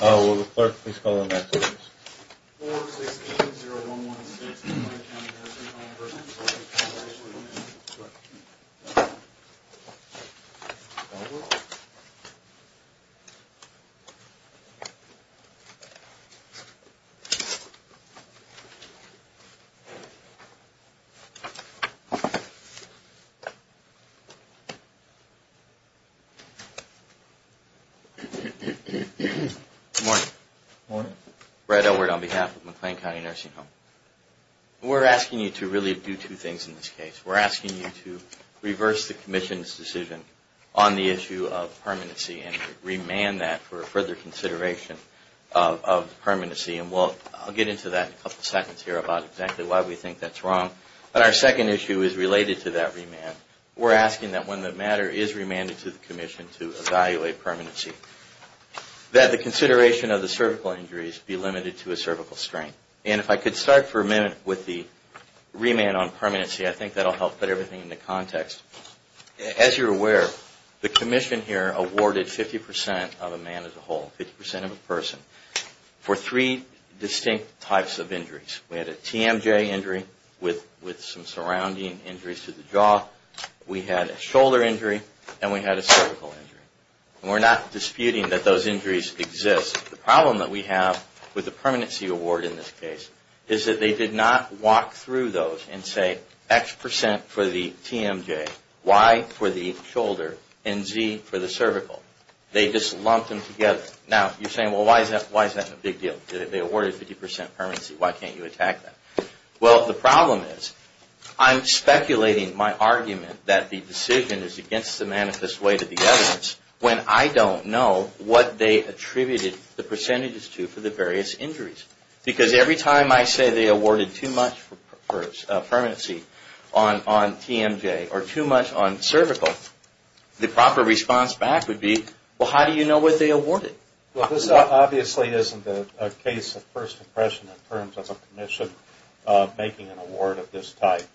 Will the clerk please call the next witness? 4-6-8-0-1-1-6 McLean County Nursing Home v Workers' Compensation Comm'n Good morning. Good morning. Brett Elwood on behalf of McLean County Nursing Home. We're asking you to really do two things in this case. We're asking you to reverse the Commission's decision on the issue of permanency and remand that for further consideration of permanency. And I'll get into that in a couple seconds here about exactly why we think that's wrong. But our second issue is related to that remand. We're asking that when the matter is remanded to the Commission to evaluate permanency, that the consideration of the cervical injuries be limited to a cervical strain. And if I could start for a minute with the remand on permanency, I think that will help put everything into context. As you're aware, the Commission here awarded 50% of a man as a whole, 50% of a person, for three distinct types of injuries. We had a TMJ injury with some surrounding injuries to the jaw. We had a shoulder injury. And we had a cervical injury. And we're not disputing that those injuries exist. The problem that we have with the permanency award in this case is that they did not walk through those and say X percent for the TMJ, Y for the shoulder, and Z for the cervical. They just lumped them together. Now, you're saying, well, why is that a big deal? They awarded 50% permanency. Why can't you attack that? Well, the problem is I'm speculating my argument that the decision is against the manifest way to the evidence when I don't know what they attributed the percentages to for the various injuries. Because every time I say they awarded too much for permanency on TMJ or too much on cervical, the proper response back would be, well, how do you know what they awarded? Well, this obviously isn't a case of first impression in terms of a commission making an award of this type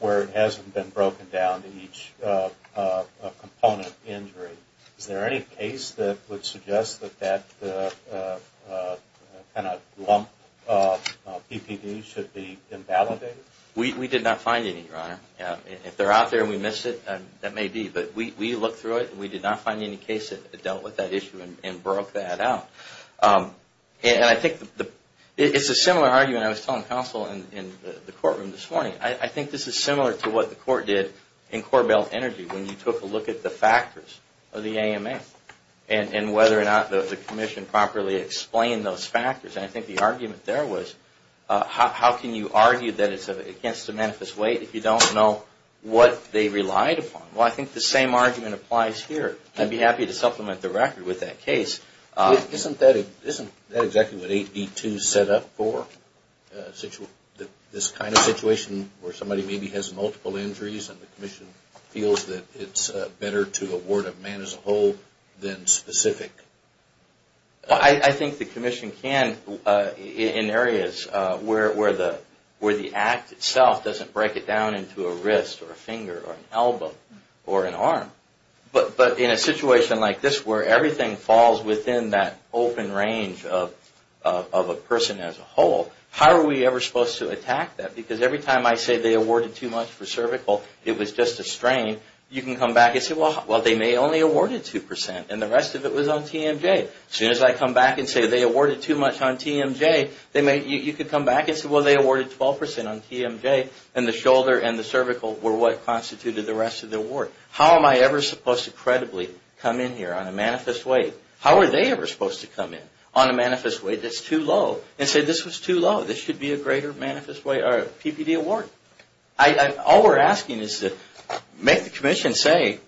where it hasn't been broken down to each component injury. Is there any case that would suggest that that kind of lump PPD should be invalidated? We did not find any, Your Honor. If they're out there and we missed it, that may be. But we looked through it and we did not find any case that dealt with that issue and broke that out. And I think it's a similar argument I was telling counsel in the courtroom this morning. I think this is similar to what the court did in Corbell Energy when you took a look at the factors of the AMA and whether or not the commission properly explained those factors. And I think the argument there was how can you argue that it's against the manifest way if you don't know what they relied upon? Well, I think the same argument applies here. I'd be happy to supplement the record with that case. Isn't that exactly what 8B2 is set up for, this kind of situation where somebody maybe has multiple injuries and the commission feels that it's better to award a man as a whole than specific? I think the commission can in areas where the act itself doesn't break it down into a wrist or a finger or an elbow or an arm. But in a situation like this where everything falls within that open range of a person as a whole, how are we ever supposed to attack that? Because every time I say they awarded too much for cervical, it was just a strain, you can come back and say, well, they may have only awarded 2% and the rest of it was on TMJ. As soon as I come back and say they awarded too much on TMJ, you could come back and say, well, they awarded 12% on TMJ and the shoulder and the cervical were what constituted the rest of the award. How am I ever supposed to credibly come in here on a manifest way? How are they ever supposed to come in on a manifest way that's too low and say this was too low? This should be a greater manifest way or a PPD award. All we're asking is to make the commission say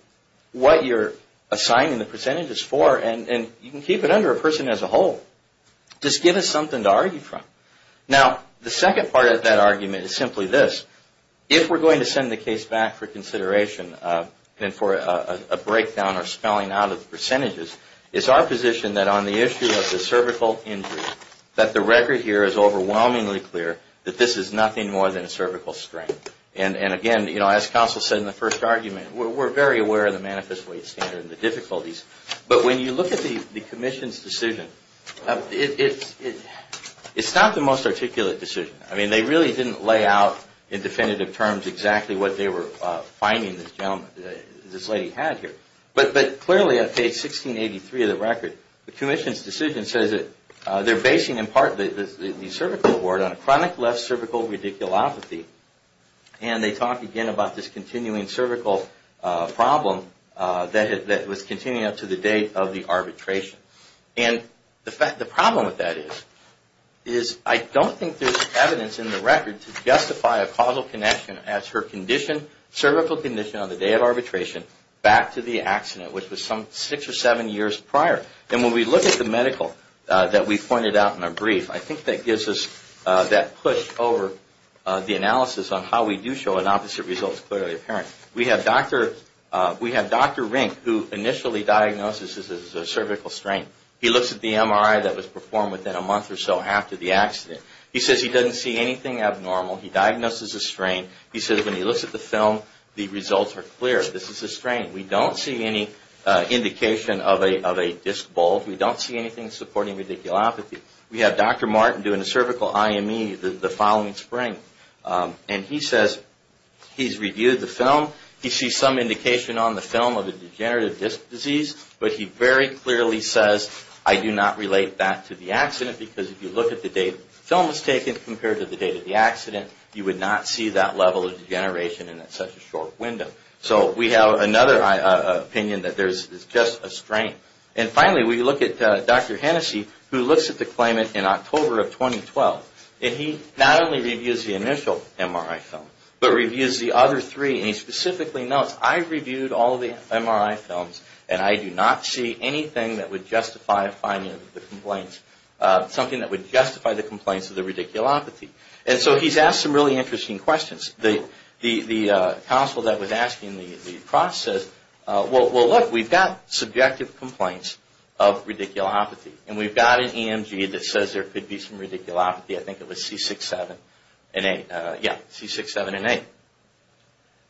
what you're assigning the percentages for and you can keep it under a person as a whole. Just give us something to argue from. Now, the second part of that argument is simply this. If we're going to send the case back for consideration and for a breakdown or spelling out of the percentages, it's our position that on the issue of the cervical injury that the record here is overwhelmingly clear that this is nothing more than a cervical strain. And again, as counsel said in the first argument, we're very aware of the manifest weight standard and the difficulties. But when you look at the commission's decision, it's not the most articulate decision. I mean, they really didn't lay out in definitive terms exactly what they were finding this lady had here. But clearly on page 1683 of the record, the commission's decision says that they're basing in part the cervical award on a chronic left cervical radiculopathy. And they talk again about this continuing cervical problem that was continuing up to the date of the arbitration. And the problem with that is I don't think there's evidence in the record to justify a causal connection as her cervical condition on the day of arbitration back to the accident, which was some six or seven years prior. And when we look at the medical that we pointed out in our brief, I think that gives us that push over the analysis on how we do show an opposite result is clearly apparent. We have Dr. Rink, who initially diagnoses this as a cervical strain. He looks at the MRI that was performed within a month or so after the accident. He says he doesn't see anything abnormal. He diagnoses a strain. He says when he looks at the film, the results are clear. This is a strain. We don't see any indication of a disc bulge. We don't see anything supporting radiculopathy. We have Dr. Martin doing a cervical IME the following spring. And he says he's reviewed the film. He sees some indication on the film of a degenerative disc disease. But he very clearly says, I do not relate that to the accident because if you look at the date the film was taken compared to the date of the accident, you would not see that level of degeneration in such a short window. So we have another opinion that there's just a strain. And finally, we look at Dr. Hennessey, who looks at the claimant in October of 2012. And he not only reviews the initial MRI film, but reviews the other three. And he specifically notes, I've reviewed all the MRI films and I do not see anything that would justify finding the complaints, something that would justify the complaints of the radiculopathy. And so he's asked some really interesting questions. The counsel that was asking the process, well, look, we've got subjective complaints of radiculopathy. And we've got an EMG that says there could be some radiculopathy. I think it was C6-7 and 8.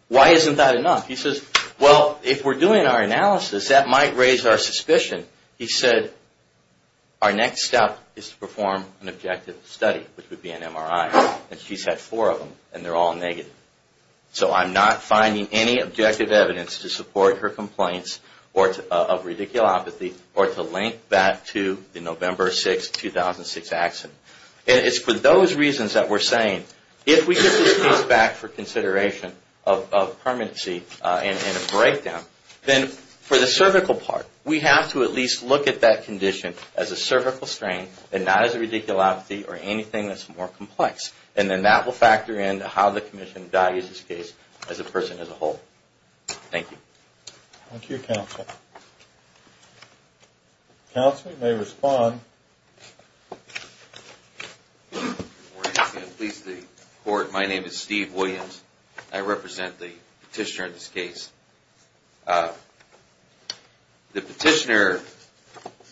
Why isn't that enough? He says, well, if we're doing our analysis, that might raise our suspicion. He said, our next step is to perform an objective study, which would be an MRI. And she's had four of them, and they're all negative. So I'm not finding any objective evidence to support her complaints of radiculopathy or to link that to the November 6, 2006 accident. And it's for those reasons that we're saying, if we get this case back for consideration of permanency and a breakdown, then for the cervical part, we have to at least look at that condition as a cervical strain and not as a radiculopathy or anything that's more complex. And then that will factor in to how the commission values this case as a person as a whole. Thank you. Thank you, counsel. Counsel, you may respond. Good morning. Pleased to report, my name is Steve Williams. I represent the petitioner in this case. The petitioner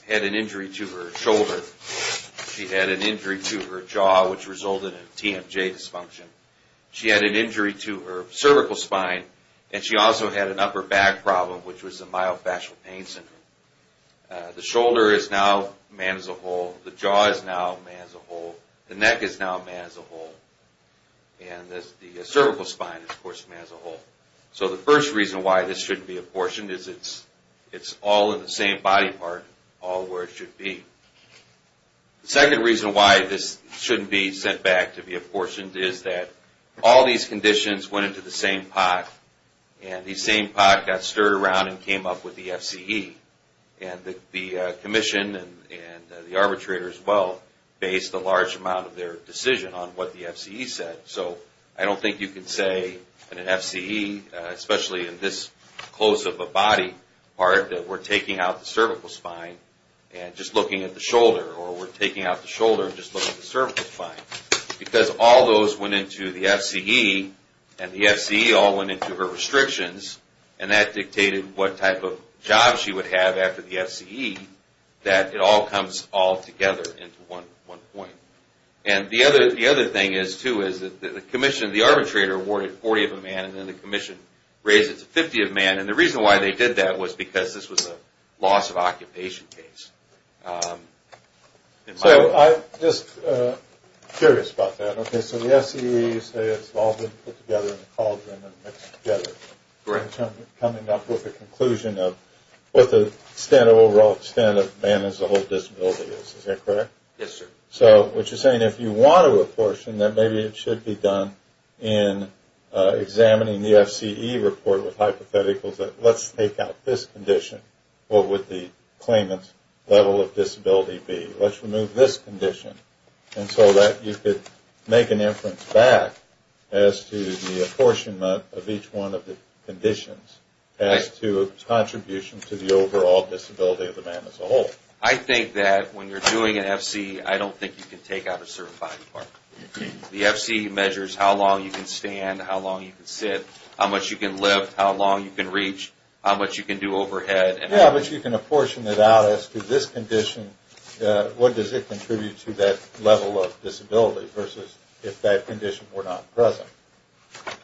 had an injury to her shoulder. She had an injury to her jaw, which resulted in a TMJ dysfunction. She had an injury to her cervical spine, and she also had an upper back problem, which was a myofascial pain syndrome. The shoulder is now man as a whole. The jaw is now man as a whole. The neck is now man as a whole. And the cervical spine is, of course, man as a whole. So the first reason why this shouldn't be apportioned is it's all in the same body part, all where it should be. The second reason why this shouldn't be sent back to be apportioned is that all these conditions went into the same pot, and the same pot got stirred around and came up with the FCE. And the commission and the arbitrator as well based a large amount of their decision on what the FCE said. So I don't think you can say in an FCE, especially in this close of a body part, that we're taking out the cervical spine and just looking at the shoulder, or we're taking out the shoulder and just looking at the cervical spine, because all those went into the FCE, and the FCE all went into her restrictions, and that dictated what type of job she would have after the FCE, that it all comes all together into one point. And the other thing is, too, is that the commission and the arbitrator awarded 40 of a man, and then the commission raised it to 50 of a man. And the reason why they did that was because this was a loss of occupation case. So I'm just curious about that. Okay, so the FCE says it's all been put together in a cauldron and mixed together. Correct. Coming up with a conclusion of what the overall extent of man as a whole disability is. Is that correct? Yes, sir. So what you're saying, if you want to apportion, then maybe it should be done in examining the FCE report with hypotheticals that let's take out this condition. What would the claimant's level of disability be? Let's remove this condition. And so that you could make an inference back as to the apportionment of each one of the conditions as to a contribution to the overall disability of the man as a whole. I think that when you're doing an FCE, I don't think you can take out a cervical spine part. The FCE measures how long you can stand, how long you can sit, how much you can lift, how long you can reach, how much you can do overhead. Yeah, but you can apportion it out as to this condition, what does it contribute to that level of disability versus if that condition were not present.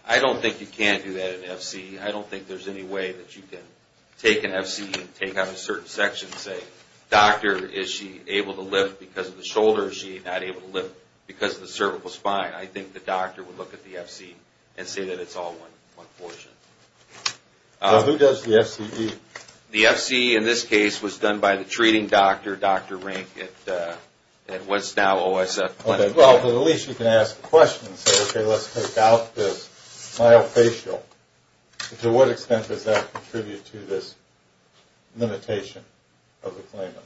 I don't think you can do that in FCE. I don't think there's any way that you can take an FCE and take out a certain section and say, doctor, is she able to lift because of the shoulders? Is she not able to lift because of the cervical spine? I think the doctor would look at the FCE and say that it's all one portion. Who does the FCE? The FCE in this case was done by the treating doctor, Dr. Rink, at what's now OSF Clinic. Well, at least you can ask a question and say, okay, let's take out this myofascial. To what extent does that contribute to this limitation of the claimant?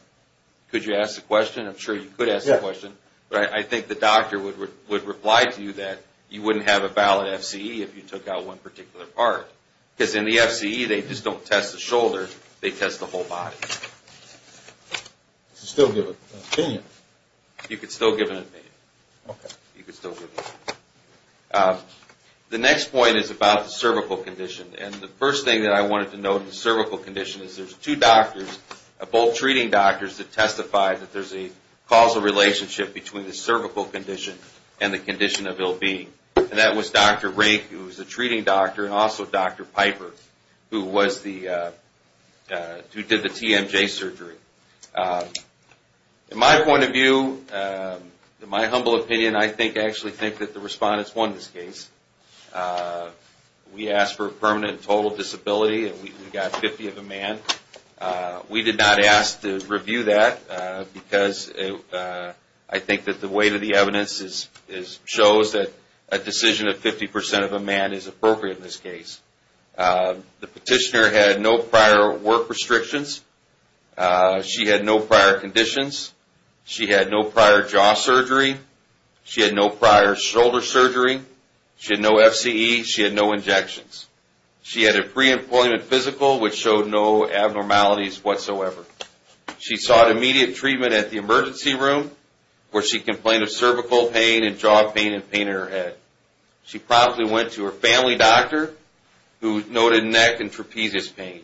Could you ask the question? I'm sure you could ask the question. I think the doctor would reply to you that you wouldn't have a valid FCE if you took out one particular part because in the FCE they just don't test the shoulder, they test the whole body. You could still give an opinion. You could still give an opinion. Okay. You could still give an opinion. The next point is about the cervical condition, and the first thing that I wanted to note in the cervical condition is there's two doctors, both treating doctors that testified that there's a causal relationship between the cervical condition and the condition of ill-being, and that was Dr. Rink, who was the treating doctor, and also Dr. Piper, who did the TMJ surgery. In my point of view, in my humble opinion, I actually think that the respondents won this case. We asked for a permanent and total disability, and we got 50 of a man. We did not ask to review that because I think that the weight of the evidence shows that a decision of 50% of a man is appropriate in this case. The petitioner had no prior work restrictions. She had no prior conditions. She had no prior jaw surgery. She had no prior shoulder surgery. She had no FCE. She had no injections. She had a pre-employment physical, which showed no abnormalities whatsoever. She sought immediate treatment at the emergency room, where she complained of cervical pain and jaw pain and pain in her head. She promptly went to her family doctor, who noted neck and trapezius pain.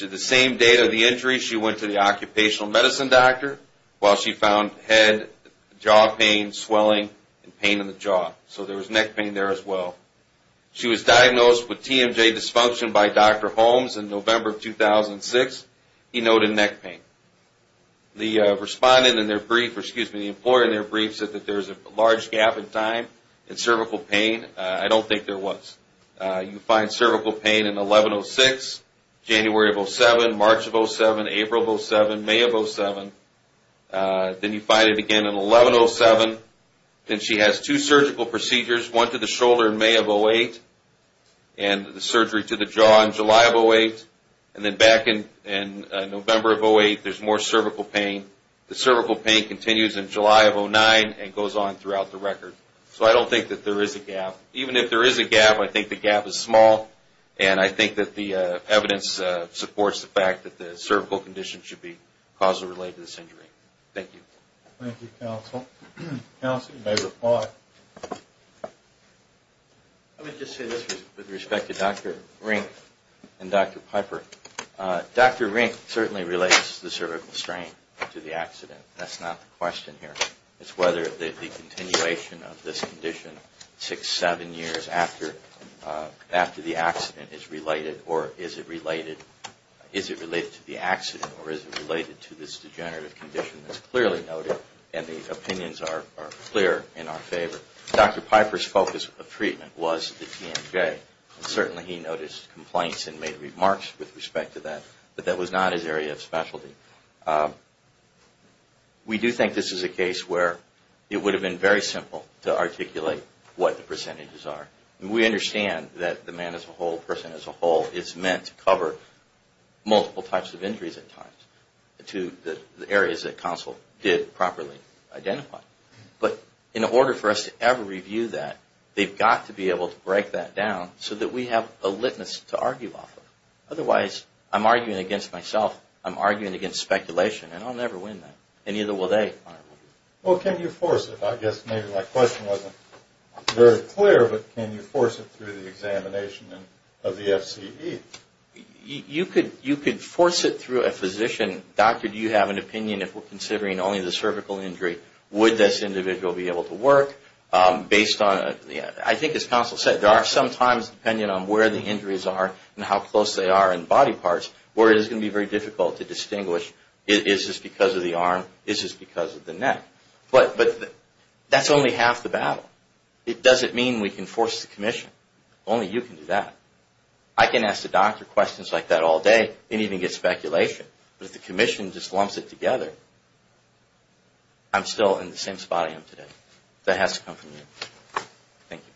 The same date of the injury, she went to the occupational medicine doctor, while she found head, jaw pain, swelling, and pain in the jaw. So there was neck pain there as well. She was diagnosed with TMJ dysfunction by Dr. Holmes in November of 2006. He noted neck pain. The employer in their brief said that there was a large gap in time in cervical pain. I don't think there was. You find cervical pain in 11-06, January of 07, March of 07, April of 07, May of 07. Then you find it again in 11-07. Then she has two surgical procedures, one to the shoulder in May of 08 and the surgery to the jaw in July of 08. And then back in November of 08, there's more cervical pain. The cervical pain continues in July of 09 and goes on throughout the record. So I don't think that there is a gap. Even if there is a gap, I think the gap is small, and I think that the evidence supports the fact that the cervical condition should be causally related to this injury. Thank you. Thank you, counsel. Counsel, you may reply. Let me just say this with respect to Dr. Rink and Dr. Piper. Dr. Rink certainly relates the cervical strain to the accident. That's not the question here. It's whether the continuation of this condition six, seven years after the accident is related or is it related to the accident or is it related to this degenerative condition that's clearly noted, and the opinions are clear in our favor. Dr. Piper's focus of treatment was the TMJ. Certainly he noticed complaints and made remarks with respect to that, but that was not his area of specialty. We do think this is a case where it would have been very simple to articulate what the percentages are. We understand that the man-as-a-whole, person-as-a-whole is meant to cover multiple types of injuries at times to the areas that counsel did properly identify, but in order for us to ever review that, they've got to be able to break that down so that we have a litmus to argue off of. Otherwise, I'm arguing against myself. I'm arguing against speculation, and I'll never win that, and neither will they. Well, can you force it? I guess maybe my question wasn't very clear, but can you force it through the examination of the FCE? You could force it through a physician. Doctor, do you have an opinion if we're considering only the cervical injury? Would this individual be able to work? I think as counsel said, there are some times, depending on where the injuries are and how close they are in body parts, where it is going to be very difficult to distinguish, is this because of the arm, is this because of the neck? But that's only half the battle. It doesn't mean we can force the commission. Only you can do that. I can ask the doctor questions like that all day and even get speculation, but if the commission just lumps it together, I'm still in the same spot I am today. That has to come from you. Thank you.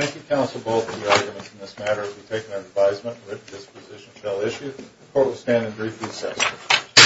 Thank you, counsel, both for your arguments in this matter. We take no advisement that this position shall issue. The court will stand in brief recess.